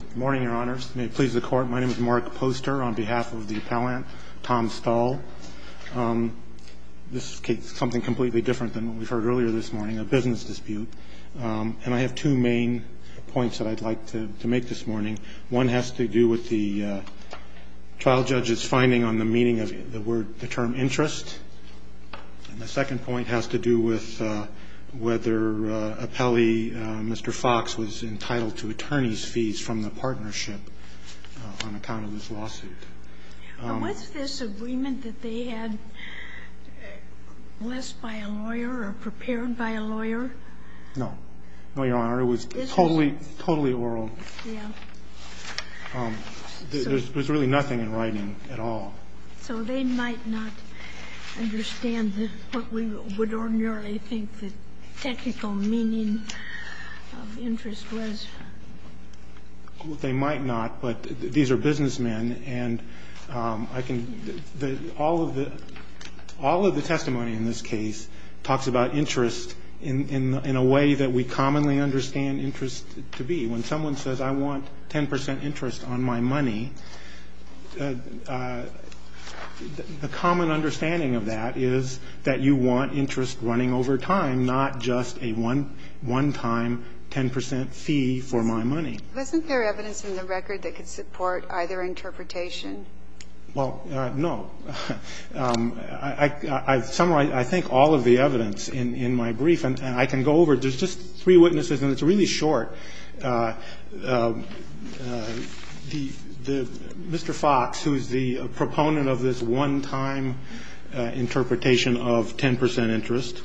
Good morning, your honors. May it please the court, my name is Mark Poster on behalf of the appellant, Tom Stull. This is something completely different than what we've heard earlier this morning, a business dispute. And I have two main points that I'd like to make this morning. One has to do with the trial judge's finding on the meaning of the term interest. And the second point has to do with whether appellee Mr. Fox was entitled to attorney's fees from the partnership on account of this lawsuit. Was this agreement that they had blessed by a lawyer or prepared by a lawyer? No, no, your honor. It was totally, totally oral. Yeah. There's really nothing in writing at all. So they might not understand what we would ordinarily think the technical meaning of interest was? They might not, but these are businessmen, and I can – all of the testimony in this case talks about interest in a way that we commonly understand interest to be. When someone says I want 10 percent interest on my money, the common understanding of that is that you want interest running over time, not just a one-time 10 percent fee for my money. Wasn't there evidence in the record that could support either interpretation? Well, no. I've summarized, I think, all of the evidence in my brief. And I can go over – there's just three witnesses, and it's really short. Mr. Fox, who is the proponent of this one-time interpretation of 10 percent interest,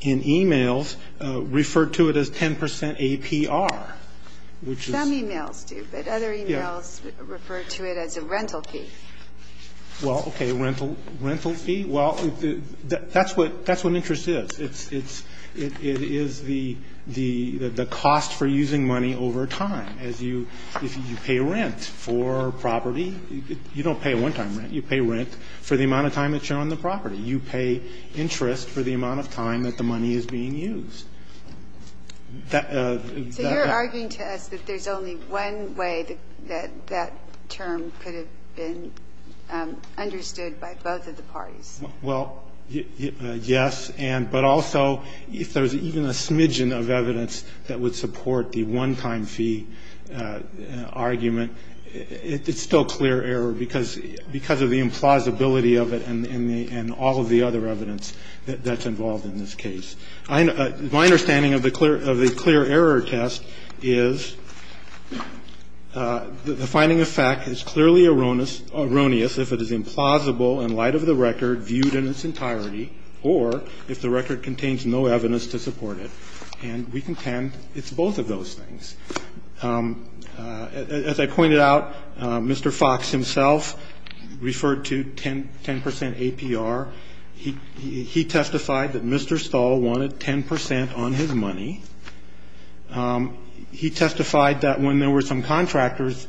in e-mails referred to it as 10 percent APR, which is – Some e-mails do, but other e-mails refer to it as a rental fee. Well, okay. Rental fee? Well, that's what interest is. It's – it is the cost for using money over time. As you – you pay rent for property. You don't pay one-time rent. You pay rent for the amount of time that you're on the property. You pay interest for the amount of time that the money is being used. So you're arguing to us that there's only one way that that term could have been understood by both of the parties? Well, yes, and – but also, if there's even a smidgen of evidence that would support the one-time fee argument, it's still clear error because of the implausibility of it and all of the other evidence that's involved in this case. My understanding of the clear error test is the finding of fact is clearly erroneous if it is implausible in light of the record viewed in its entirety or if the record contains no evidence to support it. And we contend it's both of those things. As I pointed out, Mr. Fox himself referred to 10 percent APR. He testified that Mr. Stahl wanted 10 percent on his money. He testified that when there were some contractors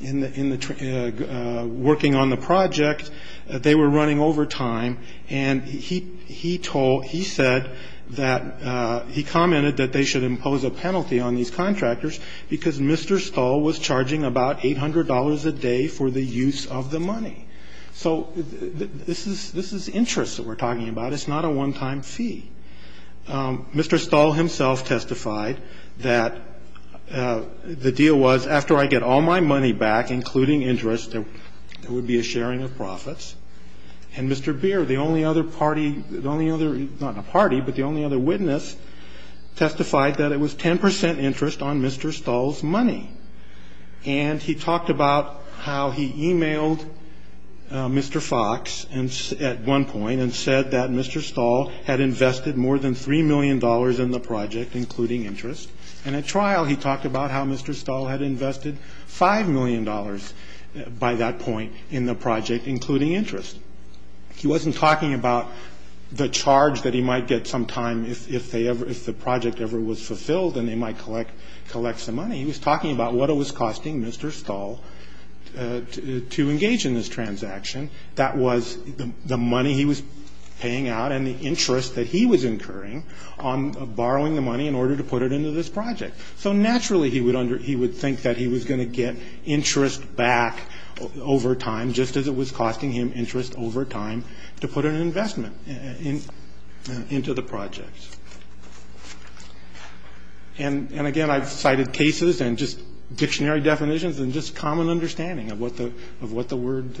working on the project, they were running over time. And he told – he said that – he commented that they should impose a penalty on these contractors because Mr. Stahl was charging about $800 a day for the use of the money. So this is – this is interest that we're talking about. It's not a one-time fee. Mr. Stahl himself testified that the deal was after I get all my money back, including interest, there would be a sharing of profits. And Mr. Beer, the only other party – the only other – not a party, but the only other witness, testified that it was 10 percent interest on Mr. Stahl's money. And he talked about how he emailed Mr. Fox at one point and said that Mr. Stahl had invested more than $3 million in the project, including interest. And at trial, he talked about how Mr. Stahl had invested $5 million by that point in the project, including interest. He wasn't talking about the charge that he might get sometime if they ever – if the project ever was fulfilled and they might collect some money. He was talking about what it was costing Mr. Stahl to engage in this transaction. That was the money he was paying out and the interest that he was incurring on borrowing the money in order to put it into this project. So naturally, he would – he would think that he was going to get interest back over time, just as it was costing him interest over time to put an investment into the project. And, again, I've cited cases and just dictionary definitions and just common understanding of what the – of what the word –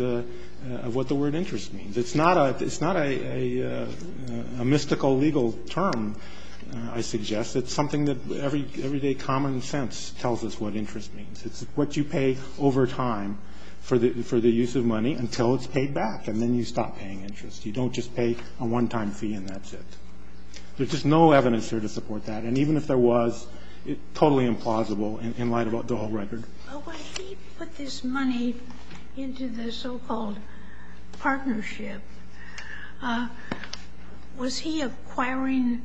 of what the word interest means. It's not a – it's not a mystical legal term, I suggest. It's something that everyday common sense tells us what interest means. It's what you pay over time for the use of money until it's paid back, and then you stop paying interest. You don't just pay a one-time fee and that's it. There's just no evidence here to support that. And even if there was, it's totally implausible in light of the whole record. Well, when he put this money into the so-called partnership, was he acquiring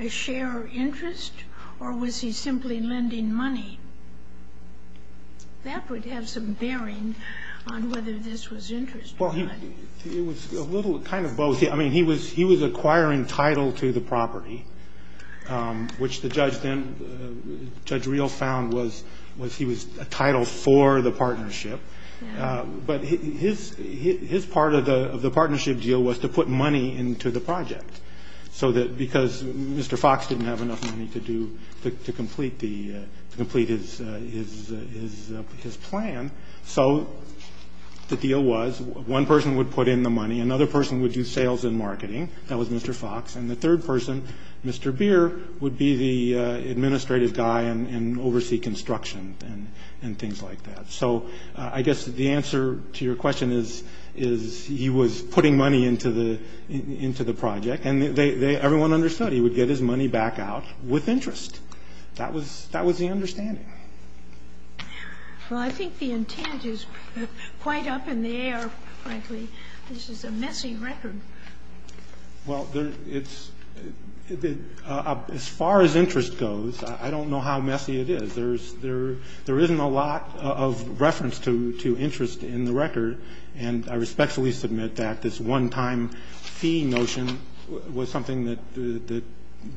a share of interest or was he simply lending money? That would have some bearing on whether this was interest money. Well, he – it was a little kind of both. I mean, he was acquiring title to the property, which the judge then – Judge Reel found was he was a title for the partnership. But his part of the partnership deal was to put money into the project so that – because Mr. Fox didn't have enough money to do – to complete the – to complete his plan. So the deal was one person would put in the money. Another person would do sales and marketing. That was Mr. Fox. And the third person, Mr. Beer, would be the administrative guy and oversee construction and things like that. So I guess the answer to your question is he was putting money into the project. And everyone understood he would get his money back out with interest. That was the understanding. Well, I think the intent is quite up in the air, frankly. This is a messy record. Well, it's – as far as interest goes, I don't know how messy it is. There's – there isn't a lot of reference to interest in the record. And I respectfully submit that this one-time fee notion was something that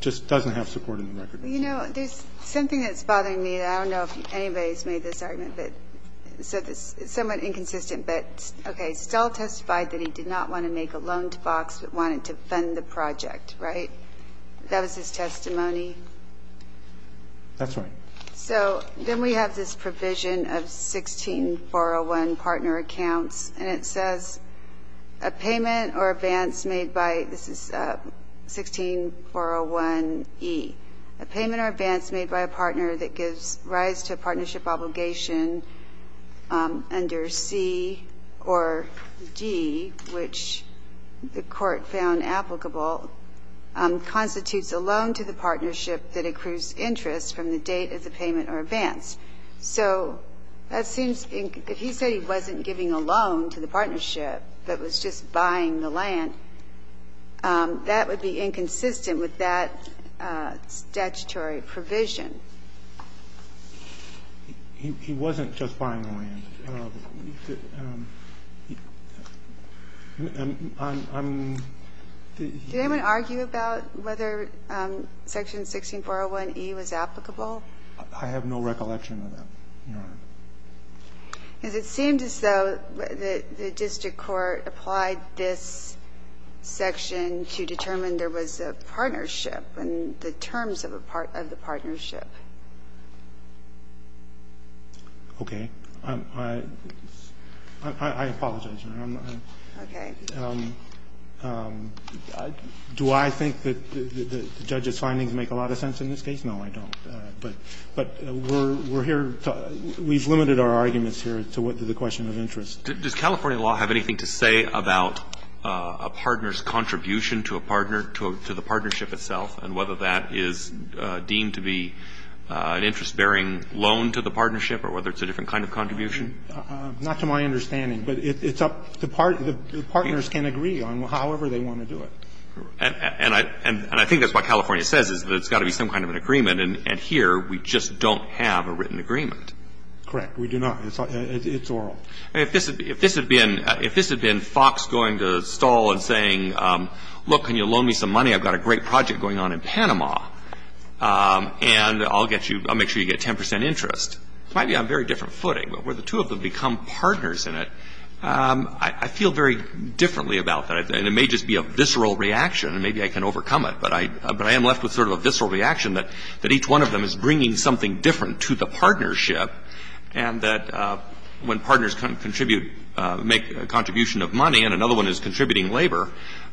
just doesn't have support in the record. You know, there's something that's bothering me. I don't know if anybody's made this argument, but – so it's somewhat inconsistent. But, okay, Stahl testified that he did not want to make a loan to Fox but wanted to fund the project, right? That was his testimony? That's right. So then we have this provision of 16-401 partner accounts. And it says, a payment or advance made by – this is 16-401E. A payment or advance made by a partner that gives rise to a partnership obligation under C or D, which the Court found applicable, constitutes a loan to the partnership that accrues interest from the date of the payment or advance. So that seems – if he said he wasn't giving a loan to the partnership but was just buying the land, that would be inconsistent with that statutory provision. He wasn't just buying the land. I'm – he – Did anyone argue about whether section 16-401E was applicable? I have no recollection of that, Your Honor. Because it seemed as though the district court applied this section to determine there was a partnership and the terms of a part – of the partnership. Okay. I apologize, Your Honor. Okay. Do I think that the judge's findings make a lot of sense in this case? No, I don't. But we're here – we've limited our arguments here to the question of interest. Does California law have anything to say about a partner's contribution to a partner, to the partnership itself, and whether that is deemed to be an interest-bearing loan to the partnership or whether it's a different kind of contribution? Not to my understanding. But it's up – the partners can agree on however they want to do it. And I – and I think that's what California says, is that it's got to be some kind of an agreement. And here, we just don't have a written agreement. Correct. We do not. It's oral. If this had been – if this had been Fox going to Stahl and saying, look, can you loan me some money? I've got a great project going on in Panama, and I'll get you – I'll make sure you get 10 percent interest, it might be on a very different footing. But where the two of them become partners in it, I feel very differently about And it may just be a visceral reaction, and maybe I can overcome it. But I am left with sort of a visceral reaction that each one of them is bringing something different to the partnership, and that when partners can contribute – make a contribution of money, and another one is contributing labor,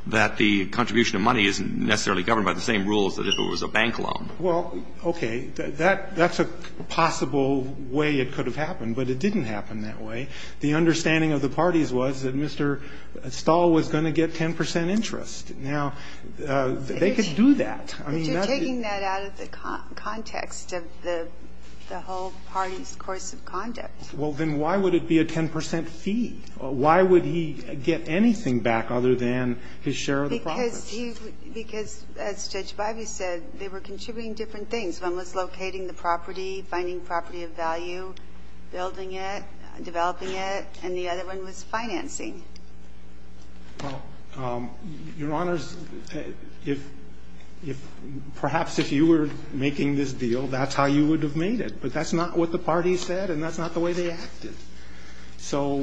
that the contribution of money isn't necessarily governed by the same rules as if it was a bank loan. Well, okay. That's a possible way it could have happened, but it didn't happen that way. The understanding of the parties was that Mr. Stahl was going to get 10 percent interest. Now, they could do that. I mean, that's the – But you're taking that out of the context of the whole party's course of conduct. Well, then why would it be a 10 percent fee? Why would he get anything back other than his share of the profits? Because he – because, as Judge Bivey said, they were contributing different things. One was locating the property, finding property of value, building it, developing it, and the other one was financing. Well, Your Honors, if – perhaps if you were making this deal, that's how you would have made it. But that's not what the parties said, and that's not the way they acted. So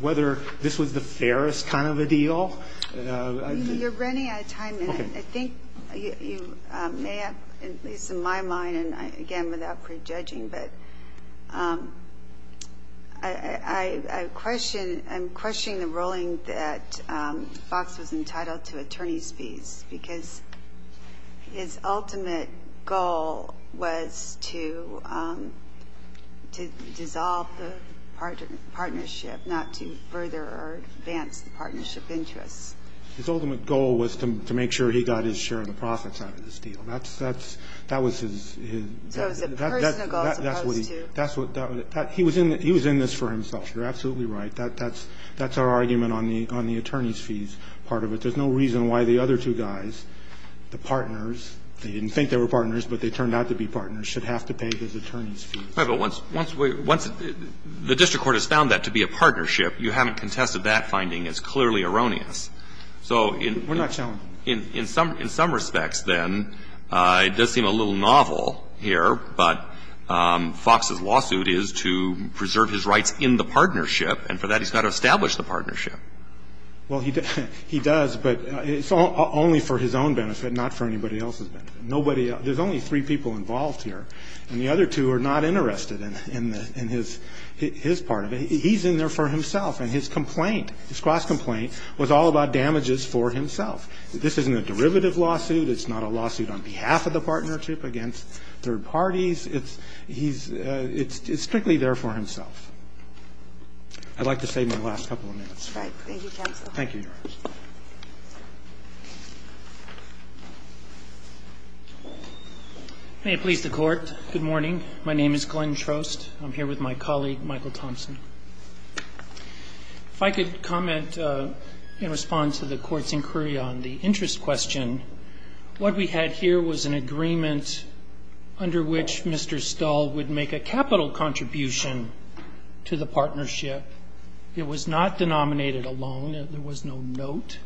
whether this was the fairest kind of a deal – You're running out of time. Okay. And I think you may have – at least in my mind, and, again, without prejudging, but I question – I'm questioning the ruling that Box was entitled to attorney's fees, because his ultimate goal was to dissolve the partnership, not to further advance the partnership interest. His ultimate goal was to make sure he got his share of the profits out of this deal. That's – that was his – So it was a personal goal as opposed to – That's what he – he was in this for himself. You're absolutely right. That's our argument on the attorney's fees part of it. There's no reason why the other two guys, the partners – they didn't think they were partners, but they turned out to be partners – should have to pay those attorney's fees. Right. But once the district court has found that to be a partnership, you haven't contested that finding. It's clearly erroneous. So in – We're not challenging. In some respects, then, it does seem a little novel here, but Fox's lawsuit is to preserve his rights in the partnership, and for that he's got to establish the partnership. Well, he does, but it's only for his own benefit, not for anybody else's benefit. Nobody – there's only three people involved here, and the other two are not interested in his part of it. He's in there for himself, and his complaint, his cross-complaint, was all about damages for himself. This isn't a derivative lawsuit. It's not a lawsuit on behalf of the partnership against third parties. It's – he's – it's strictly there for himself. I'd like to save my last couple of minutes. All right. Thank you, counsel. Thank you, Your Honor. May it please the Court. Good morning. My name is Glenn Schrost. I'm here with my colleague, Michael Thompson. If I could comment in response to the Court's inquiry on the interest question, what we had here was an agreement under which Mr. Stull would make a capital contribution to the partnership. It was not denominated a loan. There was no note.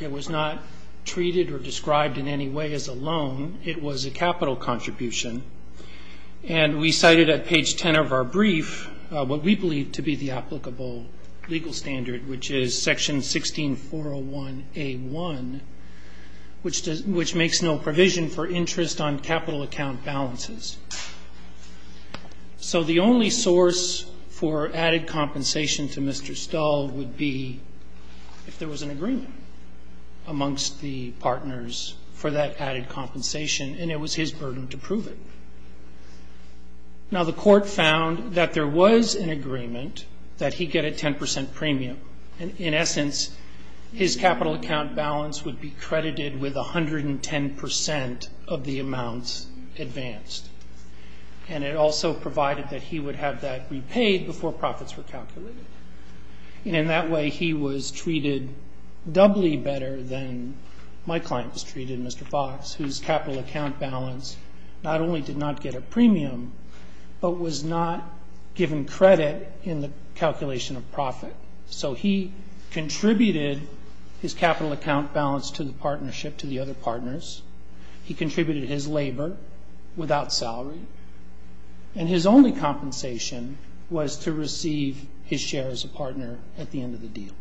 It was not treated or described in any way as a loan. It was a capital contribution. And we cited at page 10 of our brief what we believe to be the applicable legal standard, which is section 16401A1, which does – which makes no provision for interest on capital account balances. So the only source for added compensation to Mr. Stull would be if there was an agreement amongst the partners for that added compensation. And it was his burden to prove it. Now, the Court found that there was an agreement that he get a 10 percent premium. In essence, his capital account balance would be credited with 110 percent of the amounts advanced. And it also provided that he would have that repaid before profits were calculated. And in that way, he was treated doubly better than my client was treated, Mr. Fox, whose capital account balance not only did not get a premium, but was not given credit in the calculation of profit. So he contributed his capital account balance to the partnership, to the other partners. He contributed his labor without salary. And his only compensation was to receive his share as a partner at the end of the deal.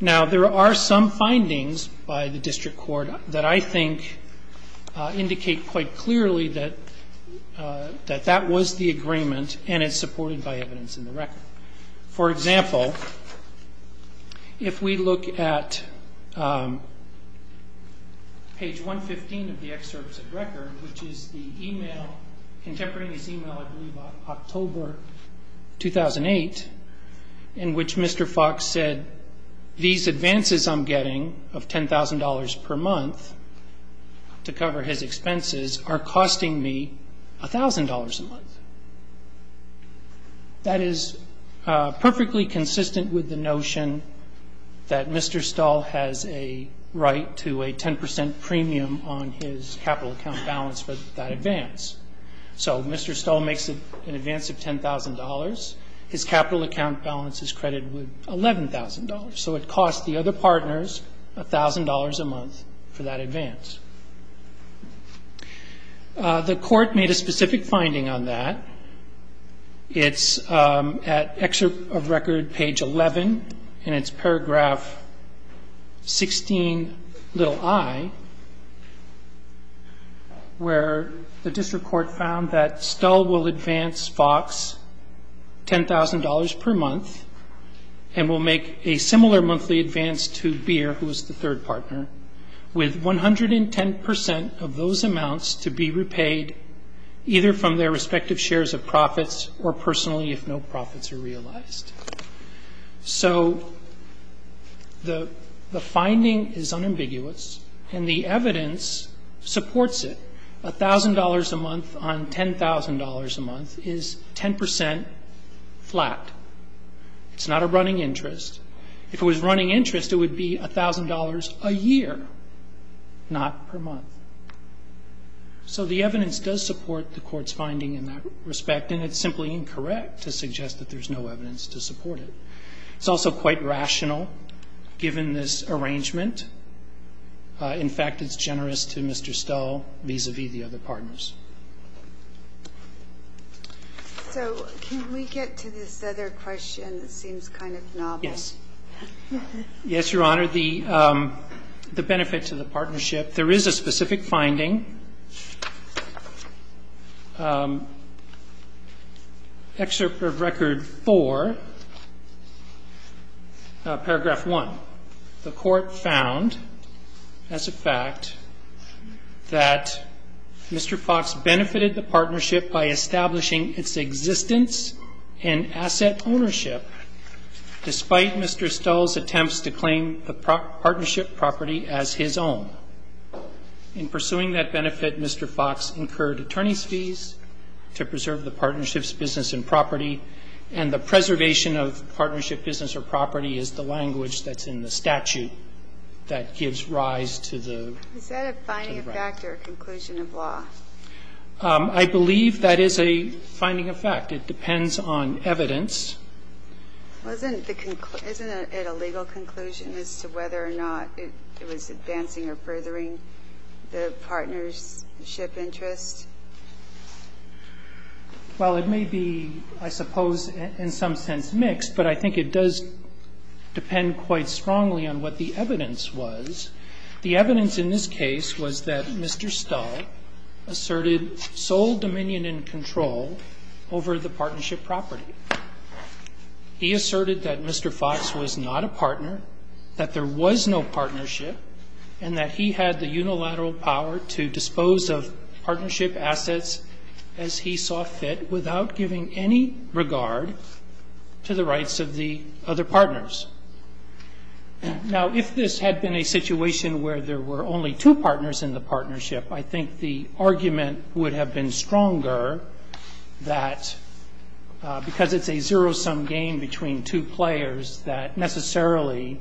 Now, there are some findings by the district court that I think indicate quite clearly that that was the agreement and it's supported by evidence in the record. For example, if we look at page 115 of the excerpts of record, which is the e-mail, contemporary e-mail, I believe October 2008, in which Mr. Fox said, these advances I'm getting of $10,000 per month to cover his expenses are costing me $1,000 a month. That is perfectly consistent with the notion that Mr. Stahl has a right to a 10 percent premium on his capital account balance for that advance. So Mr. Stahl makes an advance of $10,000. His capital account balance is credited with $11,000. So it costs the other partners $1,000 a month for that advance. The court made a specific finding on that. It's at excerpt of record page 11, and it's paragraph 16, little I, where the district court found that Stahl will advance Fox $10,000 per month and will make a similar monthly advance to Beer, who is the third partner, with 110 percent of those amounts to be repaid either from their respective shares of profits or personally if no profits are realized. So the finding is unambiguous, and the evidence supports it. $1,000 a month on $10,000 a month is 10 percent flat. It's not a running interest. If it was running interest, it would be $1,000 a year, not per month. So the evidence does support the court's finding in that respect, and it's simply incorrect to suggest that there's no evidence to support it. It's also quite rational, given this arrangement. In fact, it's generous to Mr. Stahl vis-à-vis the other partners. So can we get to this other question? It seems kind of novel. Yes. Yes, Your Honor. For the benefit to the partnership, there is a specific finding. Excerpt of Record 4, Paragraph 1. The court found as a fact that Mr. Fox benefited the partnership by establishing its existence and asset ownership despite Mr. Stahl's attempts to claim the partnership property as his own. In pursuing that benefit, Mr. Fox incurred attorney's fees to preserve the partnership's business and property, and the preservation of partnership business or property is the language that's in the statute that gives rise to the right. Is that a finding of fact or a conclusion of law? I believe that is a finding of fact. It depends on evidence. Wasn't the conclusion at a legal conclusion as to whether or not it was advancing or furthering the partnership interest? Well, it may be, I suppose, in some sense mixed, but I think it does depend quite strongly on what the evidence was. The evidence in this case was that Mr. Stahl asserted sole dominion and control over the partnership property. He asserted that Mr. Fox was not a partner, that there was no partnership, and that he had the unilateral power to dispose of partnership assets as he saw fit without giving any regard to the rights of the other partners. Now, if this had been a situation where there were only two partners in the partnership, I think the argument would have been stronger that, because it's a zero-sum game between two players, that necessarily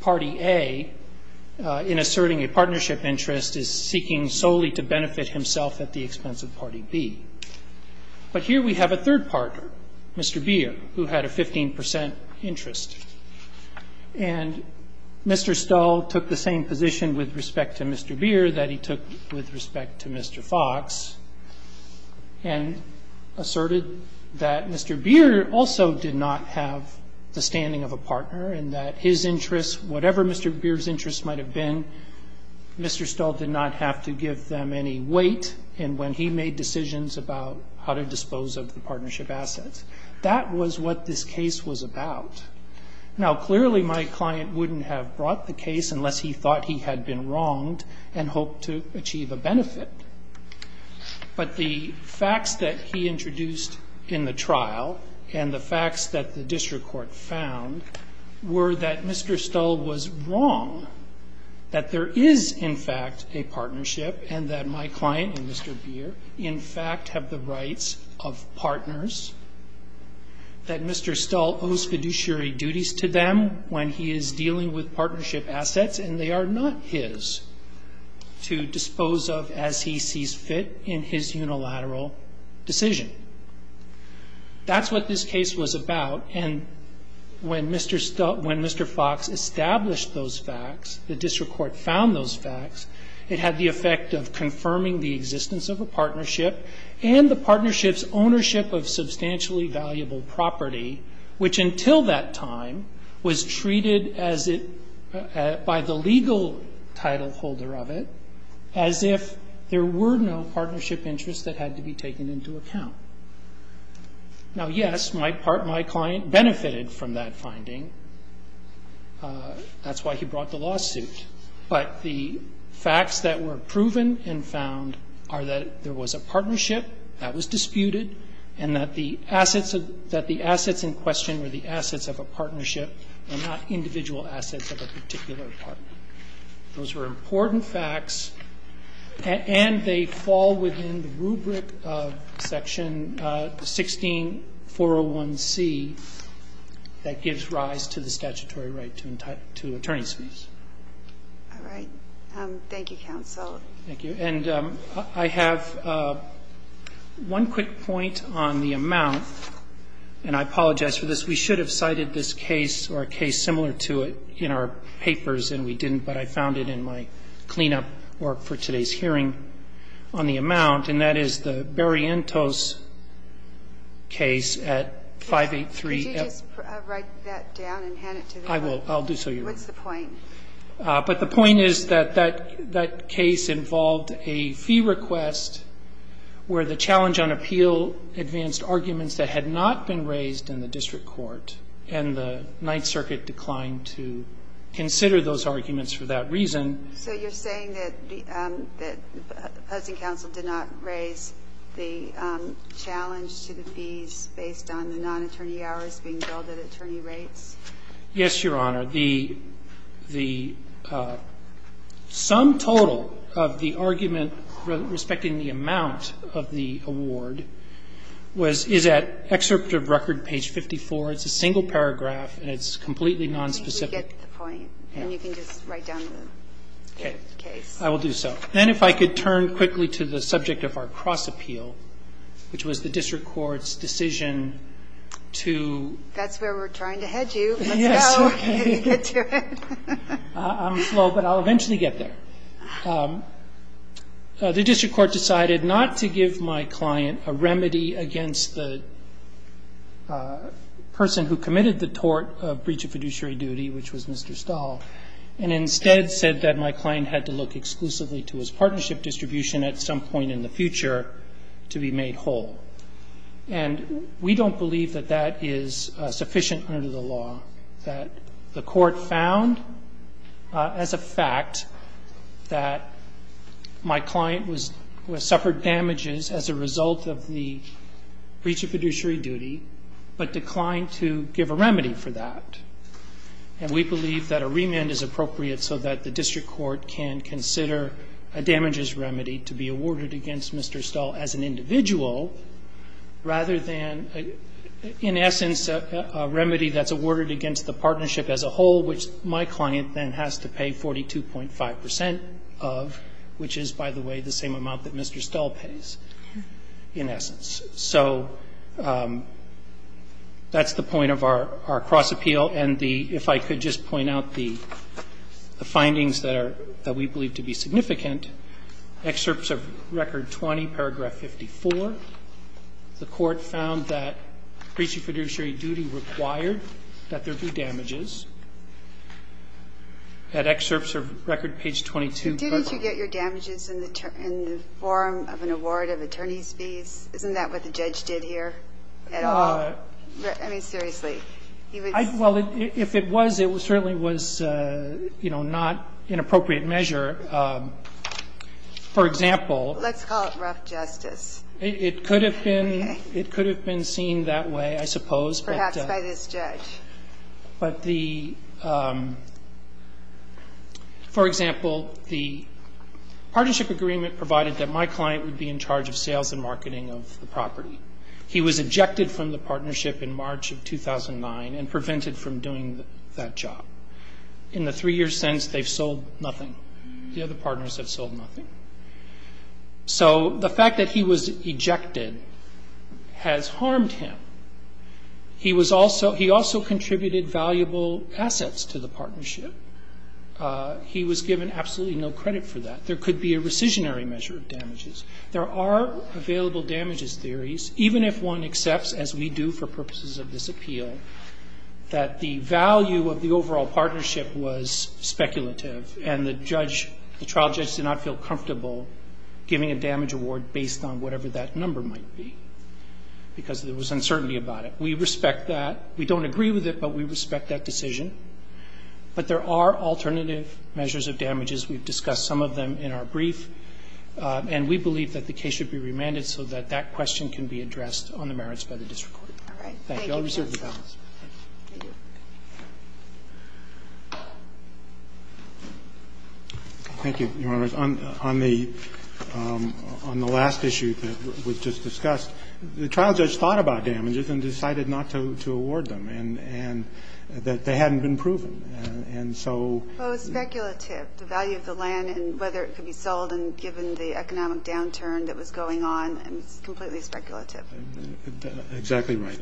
Party A, in asserting a partnership interest, is seeking solely to benefit himself at the expense of Party B. But here we have a third partner, Mr. Beer, who had a 15 percent interest. And Mr. Stahl took the same position with respect to Mr. Beer that he took with respect to Mr. Fox and asserted that Mr. Beer also did not have the standing of a partner and that his interests, whatever Mr. Beer's interests might have been, Mr. Stahl did not have to give them any weight in when he made decisions about how to dispose of the partnership assets. That was what this case was about. Now, clearly my client wouldn't have brought the case unless he thought he had been wronged and hoped to achieve a benefit. But the facts that he introduced in the trial and the facts that the district court found were that Mr. Stahl was wrong, that there is in fact a partnership and that my client and Mr. Beer in fact have the rights of partners, that Mr. Stahl owes fiduciary duties to them when he is dealing with partnership assets and they are not his to dispose of as he sees fit in his unilateral decision. That's what this case was about. And when Mr. Fox established those facts, the district court found those facts, it had the effect of confirming the existence of a partnership and the partnership's ownership of substantially valuable property, which until that time was treated as it by the legal title holder of it as if there were no partnership interests that had to be taken into account. Now, yes, my client benefited from that finding. That's why he brought the lawsuit. But the facts that were proven and found are that there was a partnership that was disputed and that the assets in question were the assets of a partnership and not individual assets of a particular partner. Those were important facts. And they fall within the rubric of Section 16401C that gives rise to the statutory right to attorney's fees. All right. Thank you, counsel. Thank you. And I have one quick point on the amount, and I apologize for this. We should have cited this case or a case similar to it in our papers, and we didn't. But I found it in my cleanup work for today's hearing on the amount, and that is the Berrientos case at 583. Could you just write that down and hand it to them? I will. I'll do so, Your Honor. What's the point? But the point is that that case involved a fee request where the challenge on appeal advanced arguments that had not been raised in the district court, and the Ninth Circuit declined to consider those arguments for that reason. So you're saying that the Posting Council did not raise the challenge to the fees based on the non-attorney hours being billed at attorney rates? Yes, Your Honor. The sum total of the argument respecting the amount of the award is at Excerpt of Record, page 54. It's a single paragraph, and it's completely nonspecific. I think we get the point. And you can just write down the case. I will do so. Then if I could turn quickly to the subject of our cross-appeal, which was the district court's decision to ---- That's where we're trying to head you. Let's go. Get to it. I'm slow, but I'll eventually get there. The district court decided not to give my client a remedy against the person who committed the tort of breach of fiduciary duty, which was Mr. Stahl, and instead said that my client had to look exclusively to his partnership distribution at some point in the future to be made whole. And we don't believe that that is sufficient under the law, that the court found as a fact that my client was ---- suffered damages as a result of the breach of fiduciary duty, but declined to give a remedy for that. And we believe that a remand is appropriate so that the district court can consider a damages remedy to be awarded against Mr. Stahl as an individual rather than, in essence, a remedy that's awarded against the partnership as a whole, which my client then has to pay 42.5 percent of, which is, by the way, the same amount that Mr. Stahl pays, in essence. So that's the point of our cross-appeal. And the ---- if I could just point out the findings that are ---- that we believe to be significant, excerpts of Record 20, Paragraph 54. The court found that breach of fiduciary duty required that there be damages. That excerpts of Record page 22, Paragraph 5. Didn't you get your damages in the form of an award of attorney's fees? Isn't that what the judge did here at all? I mean, seriously. He was ---- Well, if it was, it certainly was, you know, not an appropriate measure. For example ---- Let's call it rough justice. Okay. It could have been seen that way, I suppose. Perhaps by this judge. But the ---- for example, the partnership agreement provided that my client would be in charge of sales and marketing of the property. He was ejected from the partnership in March of 2009 and prevented from doing that job. In the three years since, they've sold nothing. The other partners have sold nothing. So the fact that he was ejected has harmed him. He was also ---- he also contributed valuable assets to the partnership. He was given absolutely no credit for that. There could be a rescissionary measure of damages. There are available damages theories, even if one accepts, as we do for purposes of this appeal, that the value of the overall partnership was speculative and the judge, the trial judge did not feel comfortable giving a damage award based on whatever that number might be because there was uncertainty about it. We respect that. We don't agree with it, but we respect that decision. But there are alternative measures of damages. We've discussed some of them in our brief. And we believe that the case should be remanded so that that question can be addressed on the merits by the district court. Thank you. I'll receive the balance. Thank you. Roberts. On the last issue that was just discussed, the trial judge thought about damages and decided not to award them and that they hadn't been proven. And so ---- Well, it was speculative, the value of the land and whether it could be sold and given the economic downturn that was going on. And it's completely speculative. Exactly right.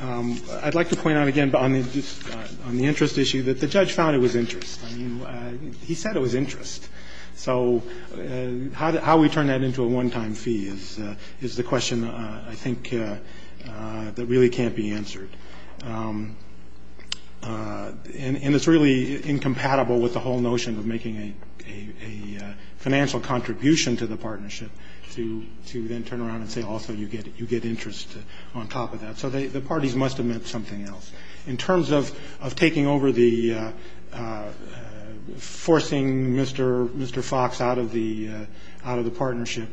I'd like to point out again on the interest issue that the judge found it was interest. I mean, he said it was interest. So how we turn that into a one-time fee is the question I think that really can't be answered. And it's really incompatible with the whole notion of making a financial contribution to the partnership to then turn around and say, also, you get interest on top of that. So the parties must have meant something else. In terms of taking over the ---- forcing Mr. Fox out of the partnership,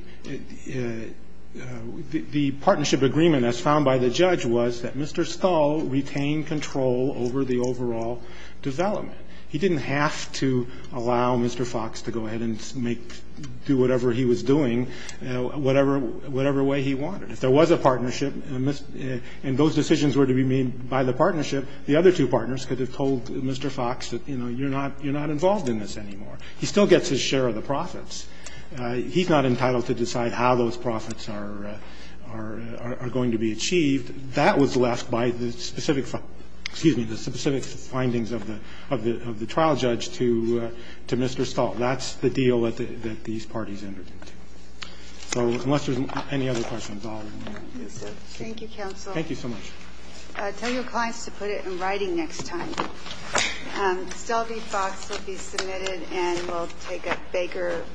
the partnership agreement as found by the judge was that Mr. Skull retained control over the overall development. He didn't have to allow Mr. Fox to go ahead and make ---- do whatever he was doing, whatever way he wanted. If there was a partnership and those decisions were to be made by the partnership, the other two partners could have told Mr. Fox that, you know, you're not involved in this anymore. He still gets his share of the profits. He's not entitled to decide how those profits are going to be achieved. That was left by the specific ---- excuse me, the specific findings of the trial judge to Mr. Stahl. That's the deal that these parties entered into. So unless there's any other questions, I'll end it there. Thank you, counsel. Thank you so much. Tell your clients to put it in writing next time. Stealthy Fox will be submitted and we'll take a baker.